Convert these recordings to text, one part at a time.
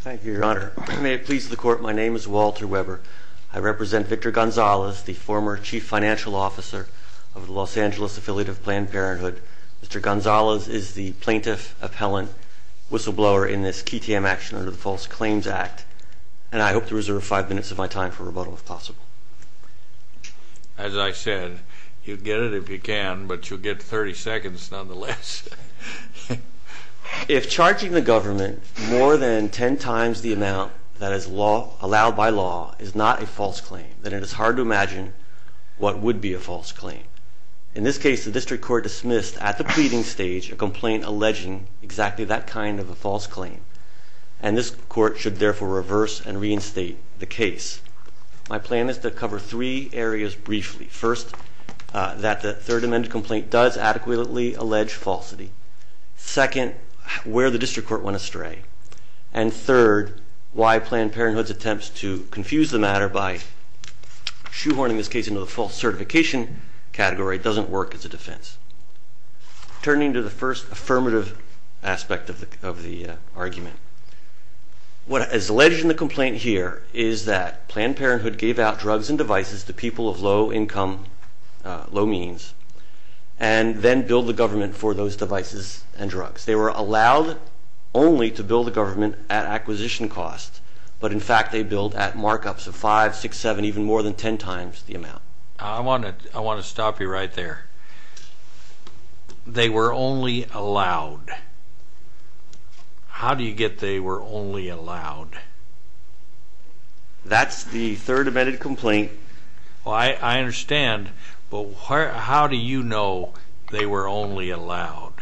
Thank you, Your Honor. May it please the Court, my name is Walter Weber. I represent Victor Gonzalez, the former Chief Financial Officer of the Los Angeles Affiliate of Planned Parenthood. Mr. Gonzalez is the plaintiff appellant whistleblower in this QTM action under the False Claims Act, and I hope to reserve five minutes of my time for rebuttal if possible. As I said, you can get it if you can, but you'll get 30 seconds nonetheless. If charging the government more than 10 times the amount that is allowed by law is not a false claim, then it is hard to imagine what would be a false claim. In this case, the District Court dismissed at the pleading stage a complaint alleging exactly that kind of a false claim, and this Court should therefore reverse and reinstate the case. My plan is to cover three areas briefly. First, that the Third Amendment complaint does adequately allege falsity. Second, where the District Court went astray. And third, why Planned Parenthood's attempts to confuse the matter by shoehorning this case into the false certification category doesn't work as a defense. Turning to the first affirmative aspect of the argument, what is alleged in the complaint here is that Planned Parenthood gave out drugs and devices to people of low income, low means, and then billed the government for those devices and drugs. They were allowed only to bill the government at acquisition costs, but in fact they billed at markups of 5, 6, 7, even more than 10 times the amount. I want to stop you right there. They were only allowed. How do you get they were only allowed? That's the Third Amendment complaint. I understand, but how do you know they were only allowed?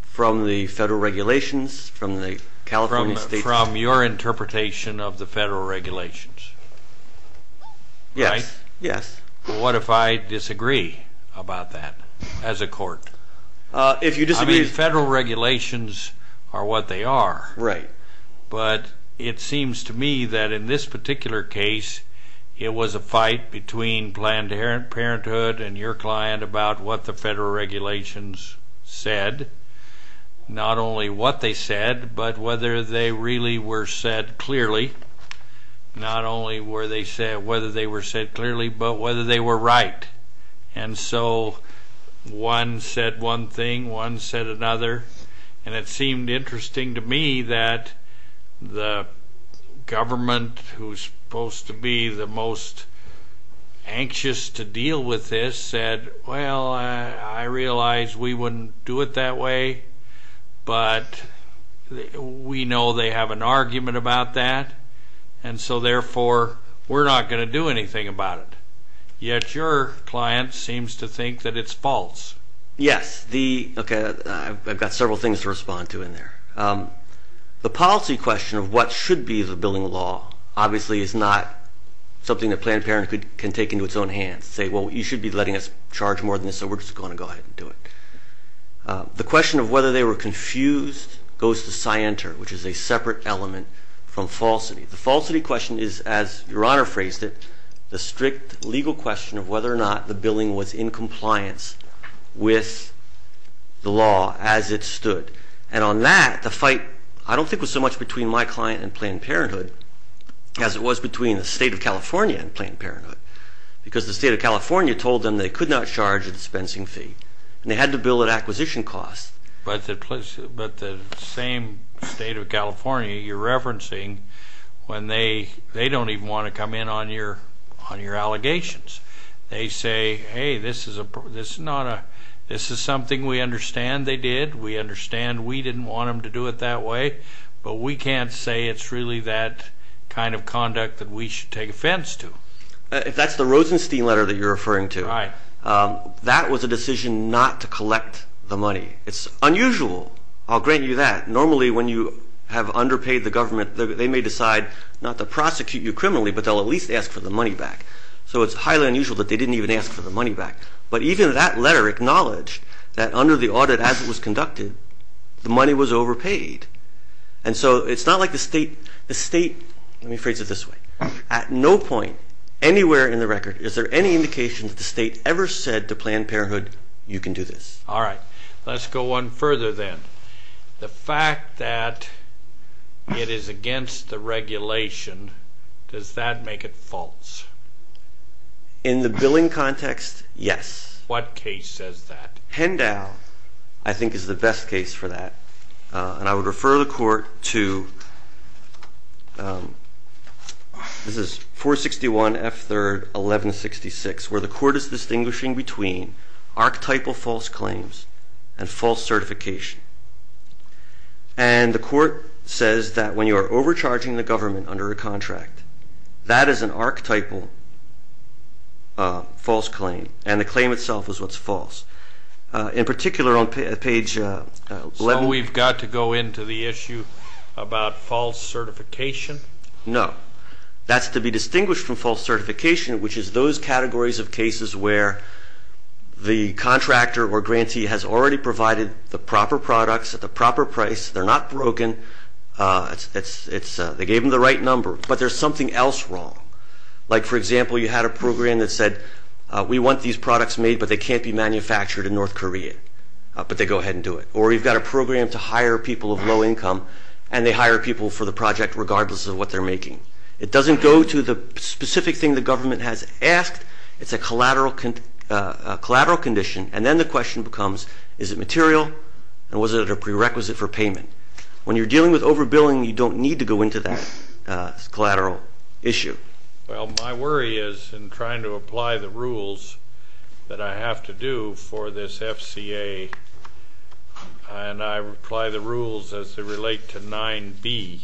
From the federal regulations, from the California state... From your interpretation of the federal regulations. Yes, yes. What if I disagree about that as a court? If you disagree... I mean, federal regulations are what they are. Right. But it seems to me that in this particular case, it was a fight between Planned Parenthood and your client about what the federal regulations said. Not only what they said, but whether they really were said clearly. Not only were they said, whether they were said clearly, but whether they were right. And so one said one thing, one said another. And it seemed interesting to me that the government, who's supposed to be the most anxious to deal with this, said, well, I realize we wouldn't do it that way, but we know they have an argument about that. And so therefore, we're not going to do anything about it. Yet your client seems to think that it's false. Yes. Okay, I've got several things to respond to in there. The policy question of what should be the building law, obviously, is not something that Planned Parenthood can take into its own hands. Say, well, you should be letting us charge more than this, so we're just going to go ahead and do it. The question of whether they were confused goes to scienter, which is a separate element from falsity. The falsity question is, as Your Honor phrased it, the strict legal question of whether or not the building was in compliance with the law as it stood. And on that, the fight, I don't think, was so much between my client and Planned Parenthood as it was between the State of California and Planned Parenthood, because the State of California told them they could not charge a dispensing fee, and they had to bill at acquisition costs. But the same State of California you're referencing, when they don't even want to come in on your allegations, they say, hey, this is something we understand they did, we understand we didn't want them to do it that way, but we can't say it's really that kind of conduct that we should take offense to. If that's the Rosenstein letter that you're referring to. Right. That was a decision not to collect the money. It's unusual. I'll grant you that. Normally when you have underpaid the government, they may decide not to prosecute you criminally, but they'll at least ask for the money back. So it's highly unusual that they didn't even ask for the money back. But even that letter acknowledged that under the audit as it was conducted, the money was overpaid. And so it's not like the State, let me phrase it this way. At no point anywhere in the record is there any indication that the State ever said to Planned Parenthood, you can do this. All right. Let's go one further then. The fact that it is against the regulation, does that make it false? In the billing context, yes. What case says that? Hendow, I think, is the best case for that. And I would refer the Court to, this is 461 F3rd 1166, where the Court is distinguishing between archetypal false claims and false certification. And the Court says that when you are overcharging the government under a contract, that is an archetypal false claim. And the claim itself is what's false. In particular on page 11. So we've got to go into the issue about false certification? No. That's to be distinguished from false certification, which is those categories of cases where the contractor or grantee has already provided the proper products at the proper price. They're not broken. They gave them the right number. But there's something else wrong. Like, for example, you had a program that said, we want these products made, but they can't be manufactured in North Korea. But they go ahead and do it. Or you've got a program to hire people of low income, and they hire people for the project regardless of what they're making. It doesn't go to the specific thing the government has asked. It's a collateral condition. And then the question becomes, is it material? And was it a prerequisite for payment? When you're dealing with overbilling, you don't need to go into that collateral issue. Well, my worry is in trying to apply the rules that I have to do for this FCA, and I apply the rules as they relate to 9b,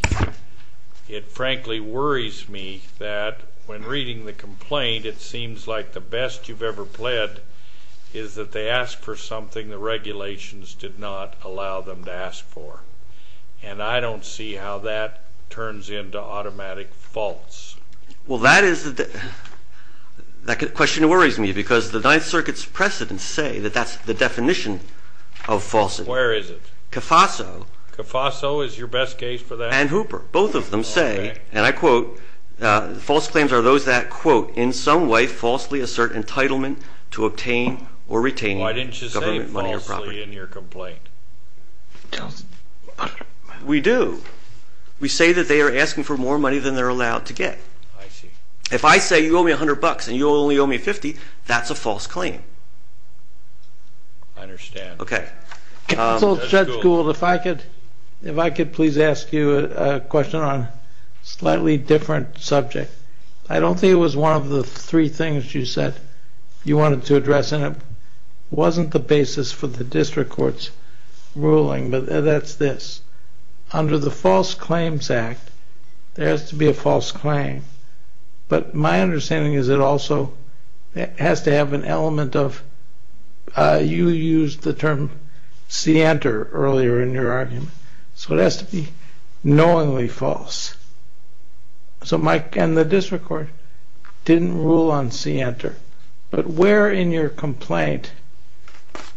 it frankly worries me that when reading the complaint, it seems like the best you've ever pled is that they asked for something the regulations did not allow them to ask for. And I don't see how that turns into automatic false. Well, that question worries me, because the Ninth Circuit's precedents say that that's the definition of falsity. Where is it? CAFASO. CAFASO is your best case for that? And Hooper. Both of them say, and I quote, false claims are those that, quote, in some way falsely assert entitlement to obtain or retain government money or property. Why didn't you say falsely in your complaint? We do. We say that they are asking for more money than they're allowed to get. I see. If I say you owe me $100 and you'll only owe me $50, that's a false claim. I understand. Counsel Judge Gould, if I could please ask you a question on a slightly different subject. I don't think it was one of the three things you said you wanted to address, and it wasn't the basis for the district court's ruling, but that's this. Under the False Claims Act, there has to be a false claim. But my understanding is it also has to have an element of, you used the term scienter earlier in your argument. So it has to be knowingly false. So Mike and the district court didn't rule on scienter. But where in your complaint,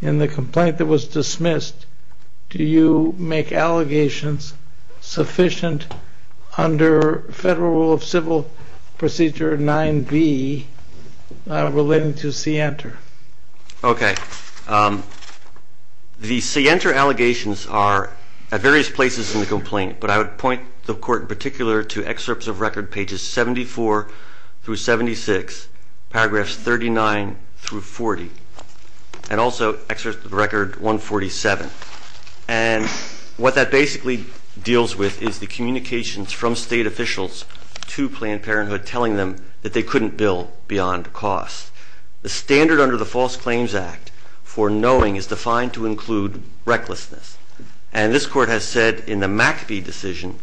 in the complaint that was dismissed, do you make allegations sufficient under Federal Rule of Civil Procedure 9B relating to scienter? Okay. The scienter allegations are at various places in the complaint, but I would point the court in particular to excerpts of record pages 74 through 76, paragraphs 39 through 40, and also excerpts of record 147. And what that basically deals with is the communications from state officials to Planned Parenthood telling them that they couldn't bill beyond cost. The standard under the False Claims Act for knowing is defined to include recklessness. And this court has said in the McAfee decision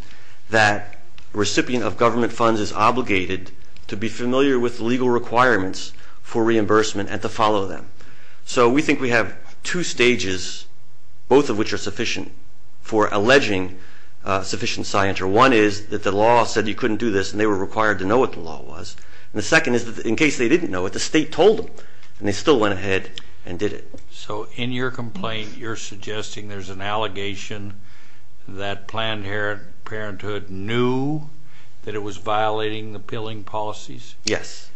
that a recipient of government funds is obligated to be familiar with legal requirements for reimbursement and to follow them. So we think we have two stages, both of which are sufficient, for alleging sufficient scienter. One is that the law said you couldn't do this, and they were required to know what the law was. And the second is that in case they didn't know it, the state told them, and they still went ahead and did it. So in your complaint, you're suggesting there's an allegation that Planned Parenthood knew that it was violating the billing policies? Yes.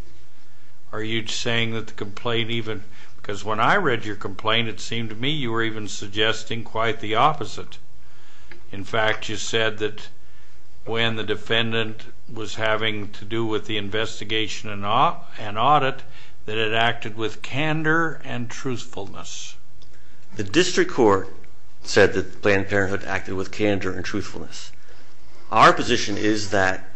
Are you saying that the complaint even – because when I read your complaint, it seemed to me you were even suggesting quite the opposite. In fact, you said that when the defendant was having to do with the investigation and audit, that it acted with candor and truthfulness. The district court said that Planned Parenthood acted with candor and truthfulness. Our position is that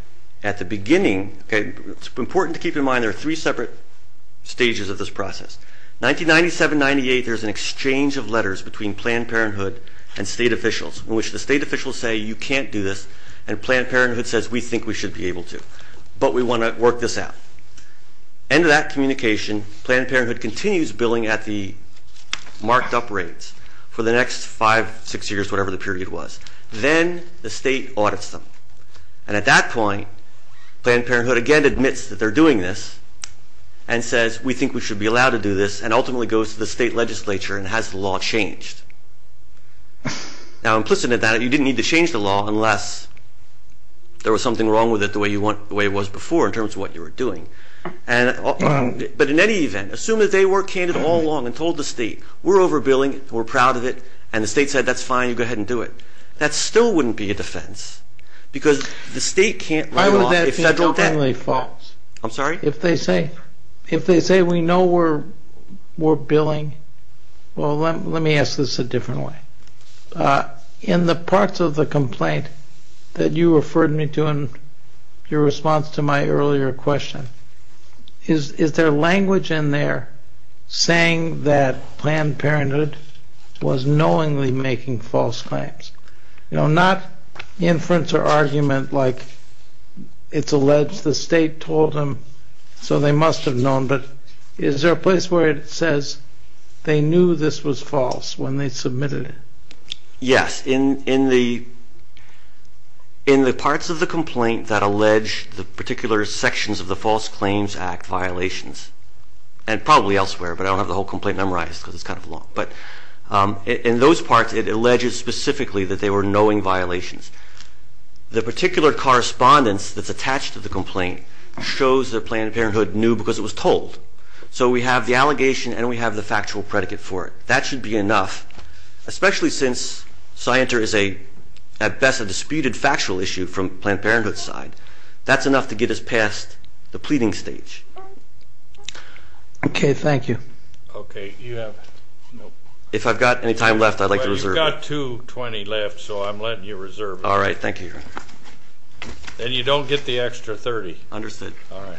at the beginning – it's important to keep in mind there are three separate stages of this process. 1997-98, there's an exchange of letters between Planned Parenthood and state officials in which the state officials say you can't do this, and Planned Parenthood says we think we should be able to, but we want to work this out. End of that communication, Planned Parenthood continues billing at the marked-up rates for the next five, six years, whatever the period was. Then the state audits them, and at that point, Planned Parenthood again admits that they're doing this and says we think we should be allowed to do this and ultimately goes to the state legislature and has the law changed. Now implicit in that, you didn't need to change the law unless there was something wrong with it the way it was before in terms of what you were doing. But in any event, as soon as they were candid all along and told the state, we're over-billing, we're proud of it, and the state said that's fine, you go ahead and do it, that still wouldn't be a defense because the state can't write it off. Why would that be totally false? I'm sorry? If they say we know we're billing, well, let me ask this a different way. In the parts of the complaint that you referred me to in your response to my earlier question, is there language in there saying that Planned Parenthood was knowingly making false claims? Not inference or argument like it's alleged the state told them so they must have known, but is there a place where it says they knew this was false when they submitted it? Yes. In the parts of the complaint that allege the particular sections of the False Claims Act violations, and probably elsewhere, but I don't have the whole complaint memorized because it's kind of long, but in those parts it alleges specifically that they were knowing violations. The particular correspondence that's attached to the complaint shows that Planned Parenthood knew because it was told. So we have the allegation and we have the factual predicate for it. That should be enough, especially since Scienter is a, at best, a disputed factual issue from Planned Parenthood's side. That's enough to get us past the pleading stage. Okay. Thank you. Okay. You have? If I've got any time left, I'd like to reserve it. You've got 2.20 left, so I'm letting you reserve it. All right. Thank you, Your Honor. And you don't get the extra 30. Understood. All right.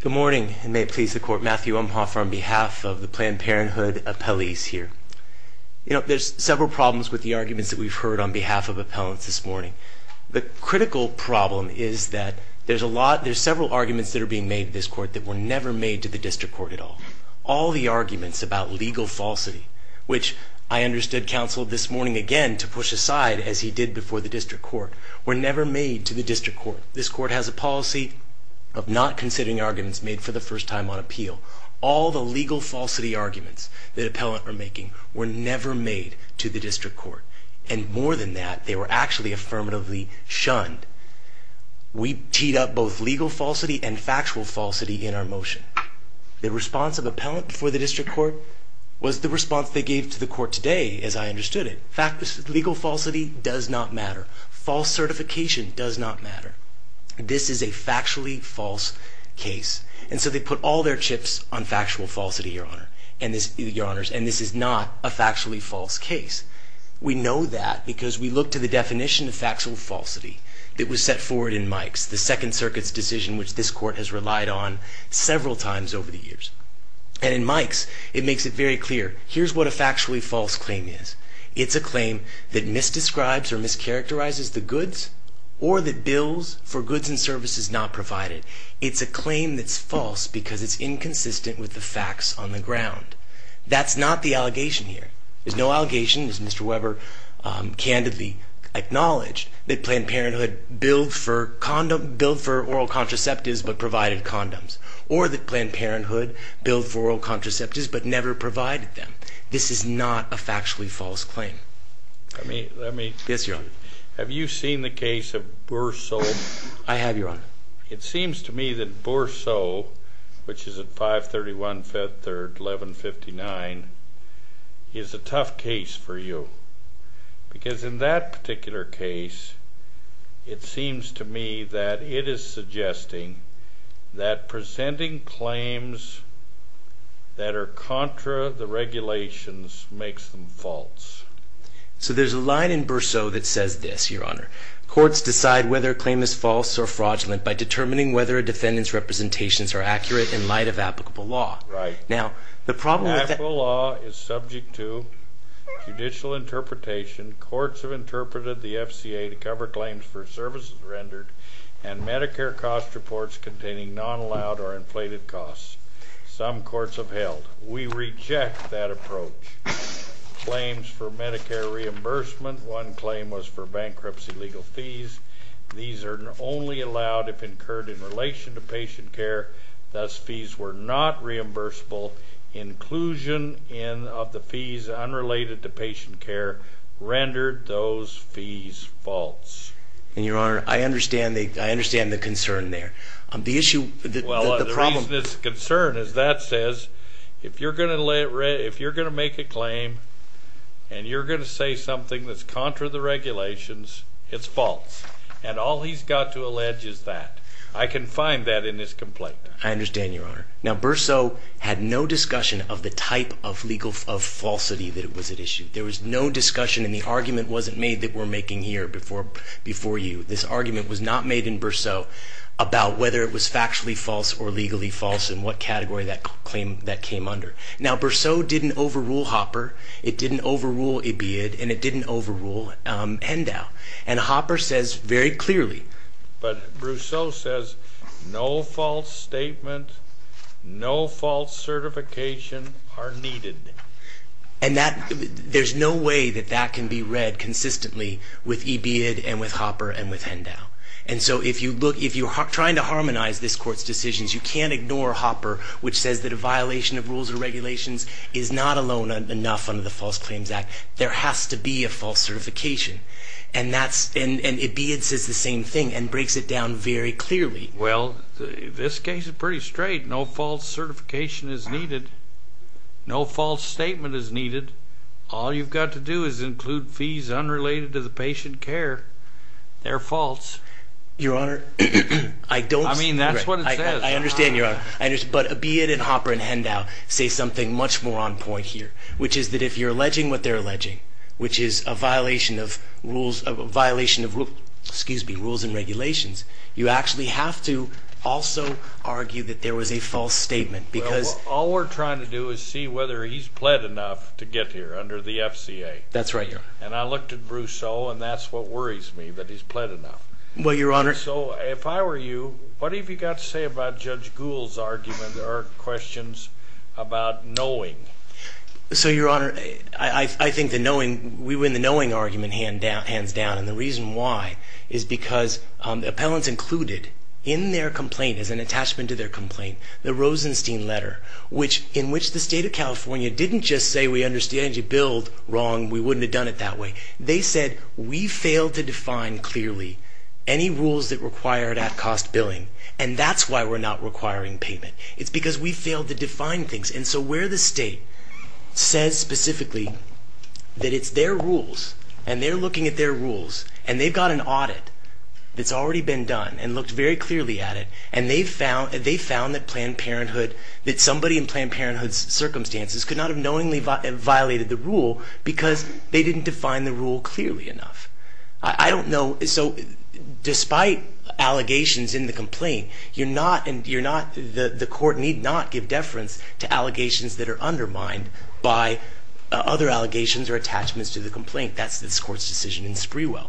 Good morning, and may it please the Court. Matthew Umphoffer on behalf of the Planned Parenthood appellees here. You know, there's several problems with the arguments that we've heard on behalf of appellants this morning. The critical problem is that there's a lot, there's several arguments that are being made in this court that were never made to the district court at all. All the arguments about legal falsity, which I understood counseled this morning again to push aside as he did before the district court, were never made to the district court. This court has a policy of not considering arguments made for the first time on appeal. All the legal falsity arguments that appellants are making were never made to the district court. And more than that, they were actually affirmatively shunned. We teed up both legal falsity and factual falsity in our motion. The response of appellants before the district court was the response they gave to the court today, as I understood it. Legal falsity does not matter. False certification does not matter. This is a factually false case. And so they put all their chips on factual falsity, Your Honor, and this is not a factually false case. We know that because we look to the definition of factual falsity that was set forward in Mike's, the Second Circuit's decision, which this court has relied on several times over the years. And in Mike's, it makes it very clear, here's what a factually false claim is. It's a claim that misdescribes or mischaracterizes the goods or that bills for goods and services not provided. It's a claim that's false because it's inconsistent with the facts on the ground. That's not the allegation here. There's no allegation, as Mr. Weber candidly acknowledged, that Planned Parenthood billed for oral contraceptives but provided condoms, or that Planned Parenthood billed for oral contraceptives but never provided them. This is not a factually false claim. Yes, Your Honor. Have you seen the case of Boursault? I have, Your Honor. It seems to me that Boursault, which is at 531 Fifth or 1159, is a tough case for you because in that particular case, it seems to me that it is suggesting that presenting claims that are contra the regulations makes them false. So there's a line in Boursault that says this, Your Honor. Courts decide whether a claim is false or fraudulent by determining whether a defendant's representations are accurate in light of applicable law. Now, the problem with that... Applicable law is subject to judicial interpretation. Courts have interpreted the FCA to cover claims for services rendered and Medicare cost reports containing non-allowed or inflated costs. Some courts have held. We reject that approach. Claims for Medicare reimbursement. One claim was for bankruptcy legal fees. These are only allowed if incurred in relation to patient care. Thus, fees were not reimbursable. Inclusion of the fees unrelated to patient care rendered those fees false. And, Your Honor, I understand the concern there. The issue... Well, the reason it's a concern is that says if you're going to make a claim and you're going to say something that's contra the regulations, it's false. And all he's got to allege is that. I can find that in his complaint. I understand, Your Honor. Now, Boursault had no discussion of the type of legal falsity that was at issue. There was no discussion and the argument wasn't made that we're making here before you. This argument was not made in Boursault about whether it was factually false or legally false and what category that claim that came under. Now, Boursault didn't overrule Hopper. It didn't overrule EBID and it didn't overrule Hendow. And Hopper says very clearly. But Boursault says no false statement, no false certification are needed. And there's no way that that can be read consistently with EBID and with Hopper and with Hendow. And so if you're trying to harmonize this court's decisions, you can't ignore Hopper which says that a violation of rules or regulations is not alone enough under the False Claims Act. There has to be a false certification. And EBID says the same thing and breaks it down very clearly. Well, this case is pretty straight. No false certification is needed. No false statement is needed. All you've got to do is include fees unrelated to the patient care. They're false. Your Honor, I don't see that. I mean, that's what it says. I understand, Your Honor. But EBID and Hopper and Hendow say something much more on point here which is that if you're alleging what they're alleging, which is a violation of rules and regulations, you actually have to also argue that there was a false statement because All we're trying to do is see whether he's pled enough to get here under the FCA. That's right, Your Honor. And I looked at Brousseau and that's what worries me, that he's pled enough. Well, Your Honor. So if I were you, what have you got to say about Judge Gould's argument or questions about knowing? So, Your Honor, I think the knowing, we win the knowing argument hands down. And the reason why is because the appellants included in their complaint, as an attachment to their complaint, the Rosenstein letter, in which the State of California didn't just say we understand you billed wrong, we wouldn't have done it that way. They said we failed to define clearly any rules that required at-cost billing and that's why we're not requiring payment. It's because we failed to define things. And so where the State says specifically that it's their rules and they're looking at their rules and they've got an audit that's already been done and looked very clearly at it and they found that Planned Parenthood, that somebody in Planned Parenthood's circumstances could not have knowingly violated the rule because they didn't define the rule clearly enough. I don't know. So despite allegations in the complaint, you're not, the court need not give deference to allegations that are undermined by other allegations or attachments to the complaint. I think that's this court's decision in Sprewell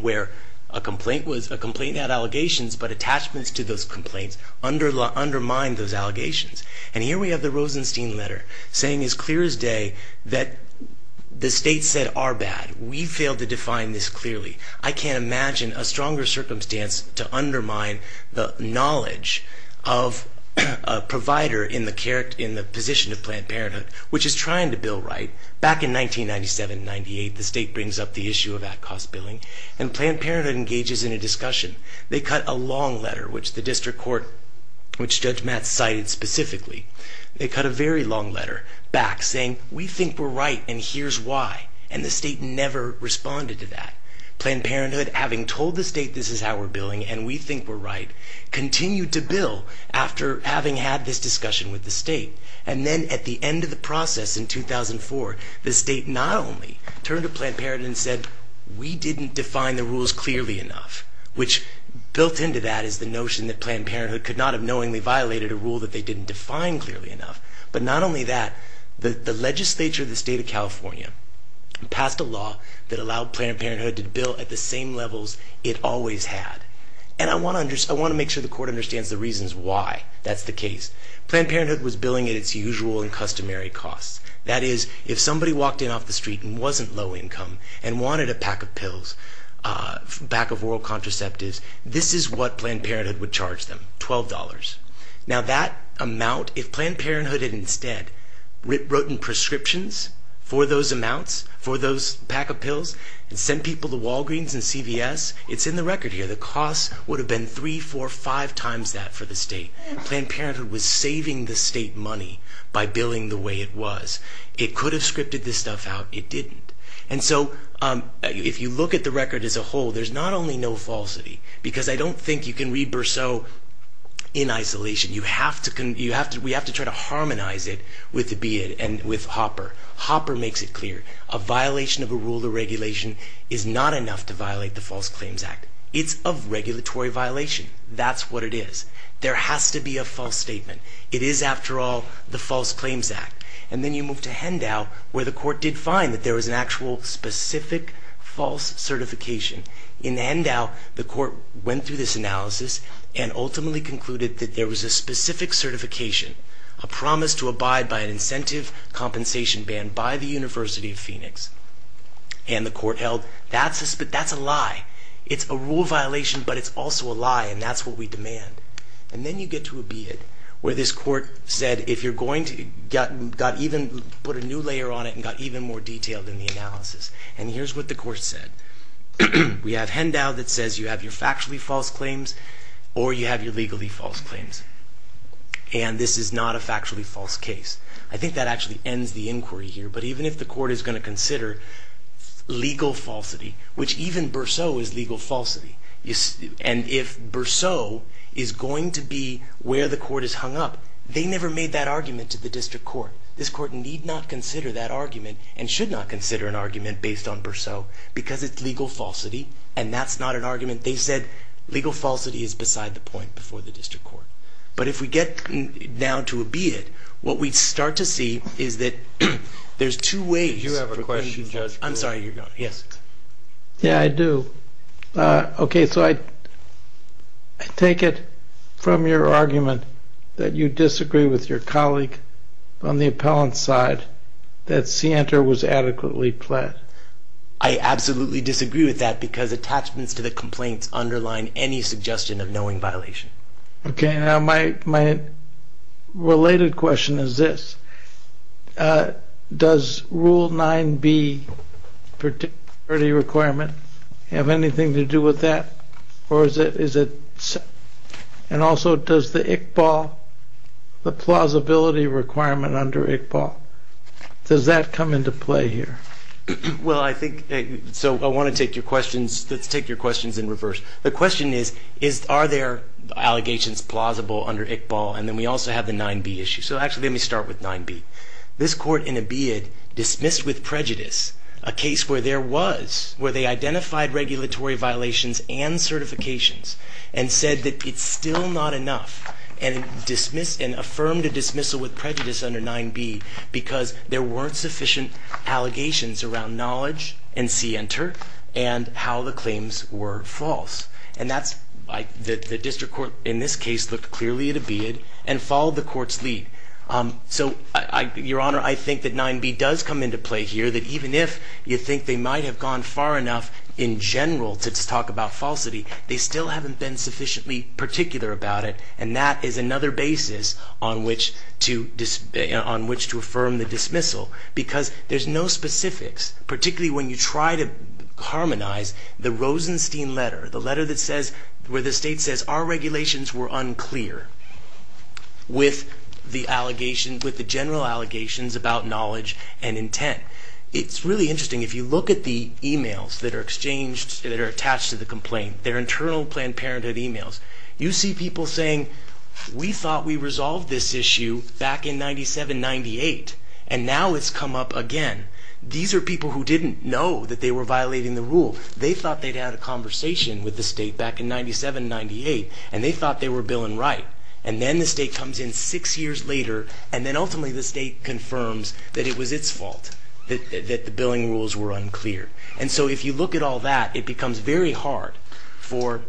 where a complaint had allegations but attachments to those complaints undermine those allegations. And here we have the Rosenstein letter saying as clear as day that the State said our bad. We failed to define this clearly. I can't imagine a stronger circumstance to undermine the knowledge of a provider in the position of Planned Parenthood, which is trying to bill right. Back in 1997-98, the State brings up the issue of at-cost billing and Planned Parenthood engages in a discussion. They cut a long letter which the district court, which Judge Matt cited specifically, they cut a very long letter back saying we think we're right and here's why and the State never responded to that. Planned Parenthood, having told the State this is how we're billing and we think we're right, continued to bill after having had this discussion with the State and then at the end of the process in 2004, the State not only turned to Planned Parenthood and said we didn't define the rules clearly enough, which built into that is the notion that Planned Parenthood could not have knowingly violated a rule that they didn't define clearly enough, but not only that, the legislature of the State of California passed a law that allowed Planned Parenthood to bill at the same levels it always had. And I want to make sure the court understands the reasons why that's the case. Planned Parenthood was billing at its usual and customary costs. That is, if somebody walked in off the street and wasn't low income and wanted a pack of pills, a pack of oral contraceptives, this is what Planned Parenthood would charge them, $12. Now that amount, if Planned Parenthood had instead written prescriptions for those amounts, for those pack of pills, and sent people to Walgreens and CVS, it's in the record here, the cost would have been three, four, five times that for the State. Planned Parenthood was saving the State money by billing the way it was. It could have scripted this stuff out. It didn't. And so if you look at the record as a whole, there's not only no falsity, because I don't think you can read Berceau in isolation. We have to try to harmonize it with the BID and with Hopper. Hopper makes it clear. A violation of a rule or regulation is not enough to violate the False Claims Act. It's a regulatory violation. That's what it is. There has to be a false statement. It is, after all, the False Claims Act. And then you move to Hendow, where the Court did find that there was an actual specific false certification. In Hendow, the Court went through this analysis and ultimately concluded that there was a specific certification, a promise to abide by an incentive compensation ban by the University of Phoenix. And the Court held, that's a lie. It's a rule violation, but it's also a lie, and that's what we demand. And then you get to a BID, where this Court said, if you're going to put a new layer on it and got even more detailed in the analysis. And here's what the Court said. We have Hendow that says you have your factually false claims, or you have your legally false claims. And this is not a factually false case. I think that actually ends the inquiry here. But even if the Court is going to consider legal falsity, which even Berceau is legal falsity, and if Berceau is going to be where the Court is hung up, they never made that argument to the District Court. This Court need not consider that argument, and should not consider an argument based on Berceau, because it's legal falsity, and that's not an argument. They said legal falsity is beside the point before the District Court. But if we get now to a BID, what we start to see is that there's two ways. I'm sorry, you're going. Yes. Yeah, I do. Okay, so I take it from your argument that you disagree with your colleague on the appellant side that Sienta was adequately pled. I absolutely disagree with that, because attachments to the complaints underline any suggestion of knowing violation. Okay, now my related question is this. Does Rule 9b particularity requirement have anything to do with that, and also does the Iqbal, the plausibility requirement under Iqbal, does that come into play here? Well, I think, so I want to take your questions, let's take your questions in reverse. The question is, are there allegations plausible under Iqbal, and then we also have the 9b issue. So actually, let me start with 9b. This court in a BID dismissed with prejudice a case where there was, where they identified regulatory violations and certifications and said that it's still not enough, and affirmed a dismissal with prejudice under 9b because there weren't sufficient allegations around knowledge in Sienta and how the claims were false. And that's, the district court in this case looked clearly at a BID and followed the court's lead. So, Your Honor, I think that 9b does come into play here, that even if you think they might have gone far enough in general to talk about falsity, they still haven't been sufficiently particular about it, and that is another basis on which to affirm the dismissal, because there's no specifics, particularly when you try to harmonize the Rosenstein letter, the letter that says, where the state says our regulations were unclear with the allegations, with the general allegations about knowledge and intent. It's really interesting. If you look at the emails that are exchanged, that are attached to the complaint, they're internal Planned Parenthood emails, you see people saying, we thought we resolved this issue back in 97-98, and now it's come up again. These are people who didn't know that they were violating the rule. They thought they'd had a conversation with the state back in 97-98, and they thought they were billing right. And then the state comes in six years later, and then ultimately the state confirms that it was its fault, that the billing rules were unclear. And so if you look at all that, it becomes very hard for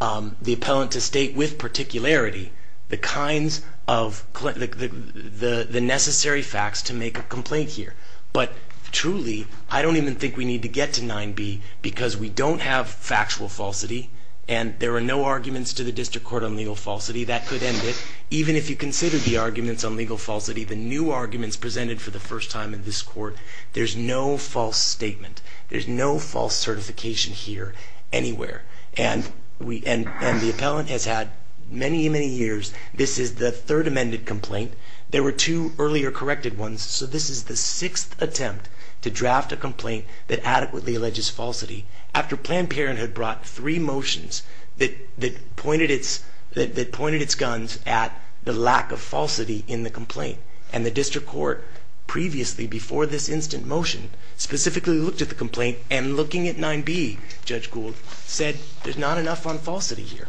the appellant to state, with particularity, the kinds of necessary facts to make a complaint here. But truly, I don't even think we need to get to 9b, because we don't have factual falsity, and there are no arguments to the district court on legal falsity. That could end it. Even if you consider the arguments on legal falsity, the new arguments presented for the first time in this court, there's no false statement. There's no false certification here anywhere. And the appellant has had many, many years. This is the third amended complaint. There were two earlier corrected ones. So this is the sixth attempt to draft a complaint that adequately alleges falsity, after Planned Parenthood brought three motions that pointed its guns at the lack of falsity in the complaint. And the district court previously, before this instant motion, specifically looked at the complaint, and looking at 9b, Judge Gould, said there's not enough on falsity here.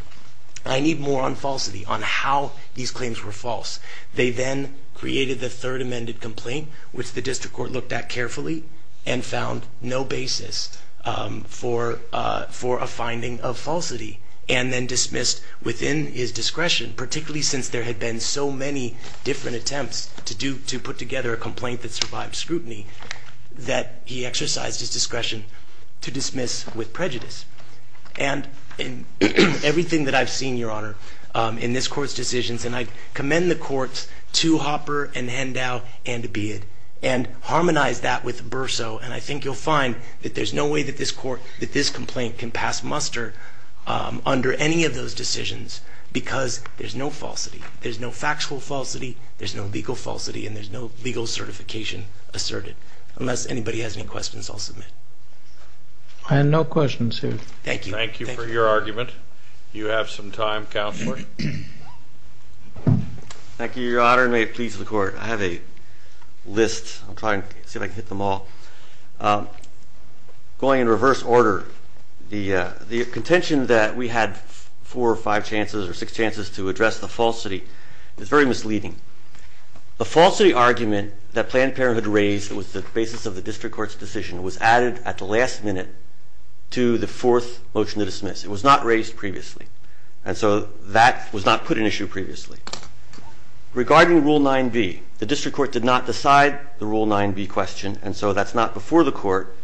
I need more on falsity, on how these claims were false. They then created the third amended complaint, which the district court looked at carefully, and found no basis for a finding of falsity, and then dismissed within his discretion, particularly since there had been so many different attempts to put together a complaint that survived scrutiny, that he exercised his discretion to dismiss with prejudice. And in everything that I've seen, Your Honor, in this court's decisions, and I commend the courts to Hopper and Hendow and Beid, and harmonize that with Bersow, and I think you'll find that there's no way that this complaint can pass muster under any of those decisions, because there's no falsity. There's no factual falsity, there's no legal falsity, and there's no legal certification asserted. Unless anybody has any questions, I'll submit. I have no questions, Your Honor. Thank you. Thank you for your argument. You have some time, Counselor. Thank you, Your Honor, and may it please the Court. I have a list. I'll try and see if I can hit them all. Going in reverse order, the contention that we had four or five chances or six chances to address the falsity is very misleading. The falsity argument that Planned Parenthood raised was the basis of the district court's decision was added at the last minute to the fourth motion to dismiss. It was not raised previously, and so that was not put in issue previously. Regarding Rule 9b, the district court did not decide the Rule 9b question, and so that's not before the Court.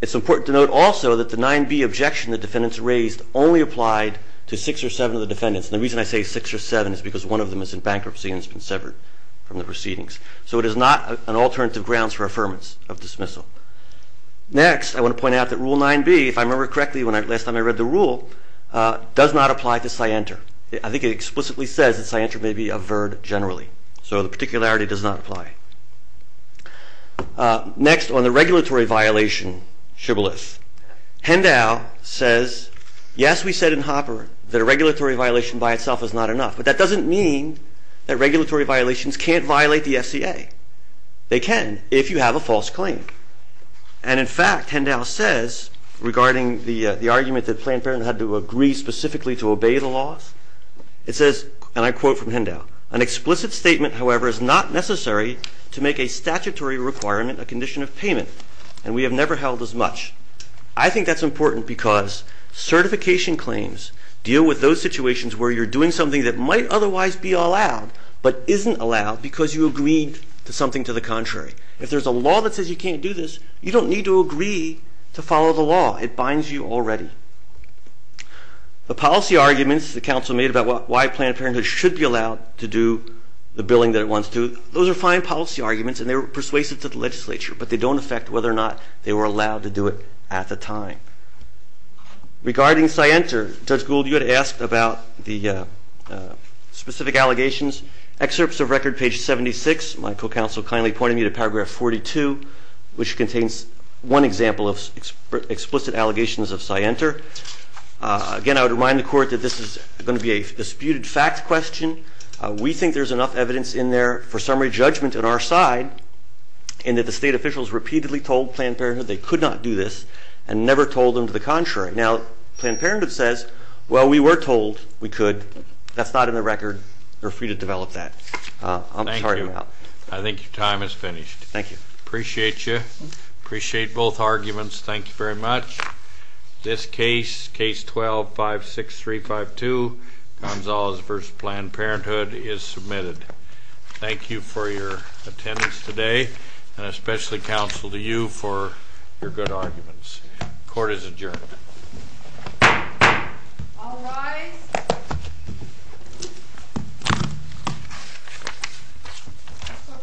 It's important to note also that the 9b objection the defendants raised only applied to six or seven of the defendants, and the reason I say six or seven is because one of them is in bankruptcy and has been severed from the proceedings. So it is not an alternative grounds for affirmance of dismissal. Next, I want to point out that Rule 9b, if I remember correctly the last time I read the Rule, does not apply to scienter. I think it explicitly says that scienter may be averred generally, so the particularity does not apply. Next, on the regulatory violation shibboleth, Hendow says, yes, we said in Hopper that a regulatory violation by itself is not enough, but that doesn't mean that regulatory violations can't violate the FCA. They can, if you have a false claim. And in fact, Hendow says, regarding the argument that Planned Parenthood had to agree specifically to obey the laws, it says, and I quote from Hendow, an explicit statement, however, is not necessary to make a statutory requirement a condition of payment, and we have never held as much. I think that's important because certification claims deal with those situations where you're doing something that might otherwise be allowed but isn't allowed because you agreed to something to the contrary. If there's a law that says you can't do this, you don't need to agree to follow the law. It binds you already. The policy arguments the council made about why Planned Parenthood should be allowed to do the billing that it wants to, those are fine policy arguments, and they were persuasive to the legislature, but they don't affect whether or not they were allowed to do it at the time. Regarding scienter, Judge Gould, you had asked about the specific allegations. Excerpts of record, page 76, my co-counsel kindly pointed me to paragraph 42, which contains one example of explicit allegations of scienter. Again, I would remind the court that this is going to be a disputed fact question. We think there's enough evidence in there for summary judgment on our side and that the state officials repeatedly told Planned Parenthood they could not do this and never told them to the contrary. Now, Planned Parenthood says, well, we were told we could. That's not in the record. You're free to develop that. I'm sorry about that. Thank you. I think your time is finished. Thank you. Appreciate you. Appreciate both arguments. Thank you very much. This case, case 12-56352, Gonzalez v. Planned Parenthood, is submitted. Thank you for your attendance today and especially counsel to you for your good arguments. Court is adjourned. All rise. So for the second time adjourned.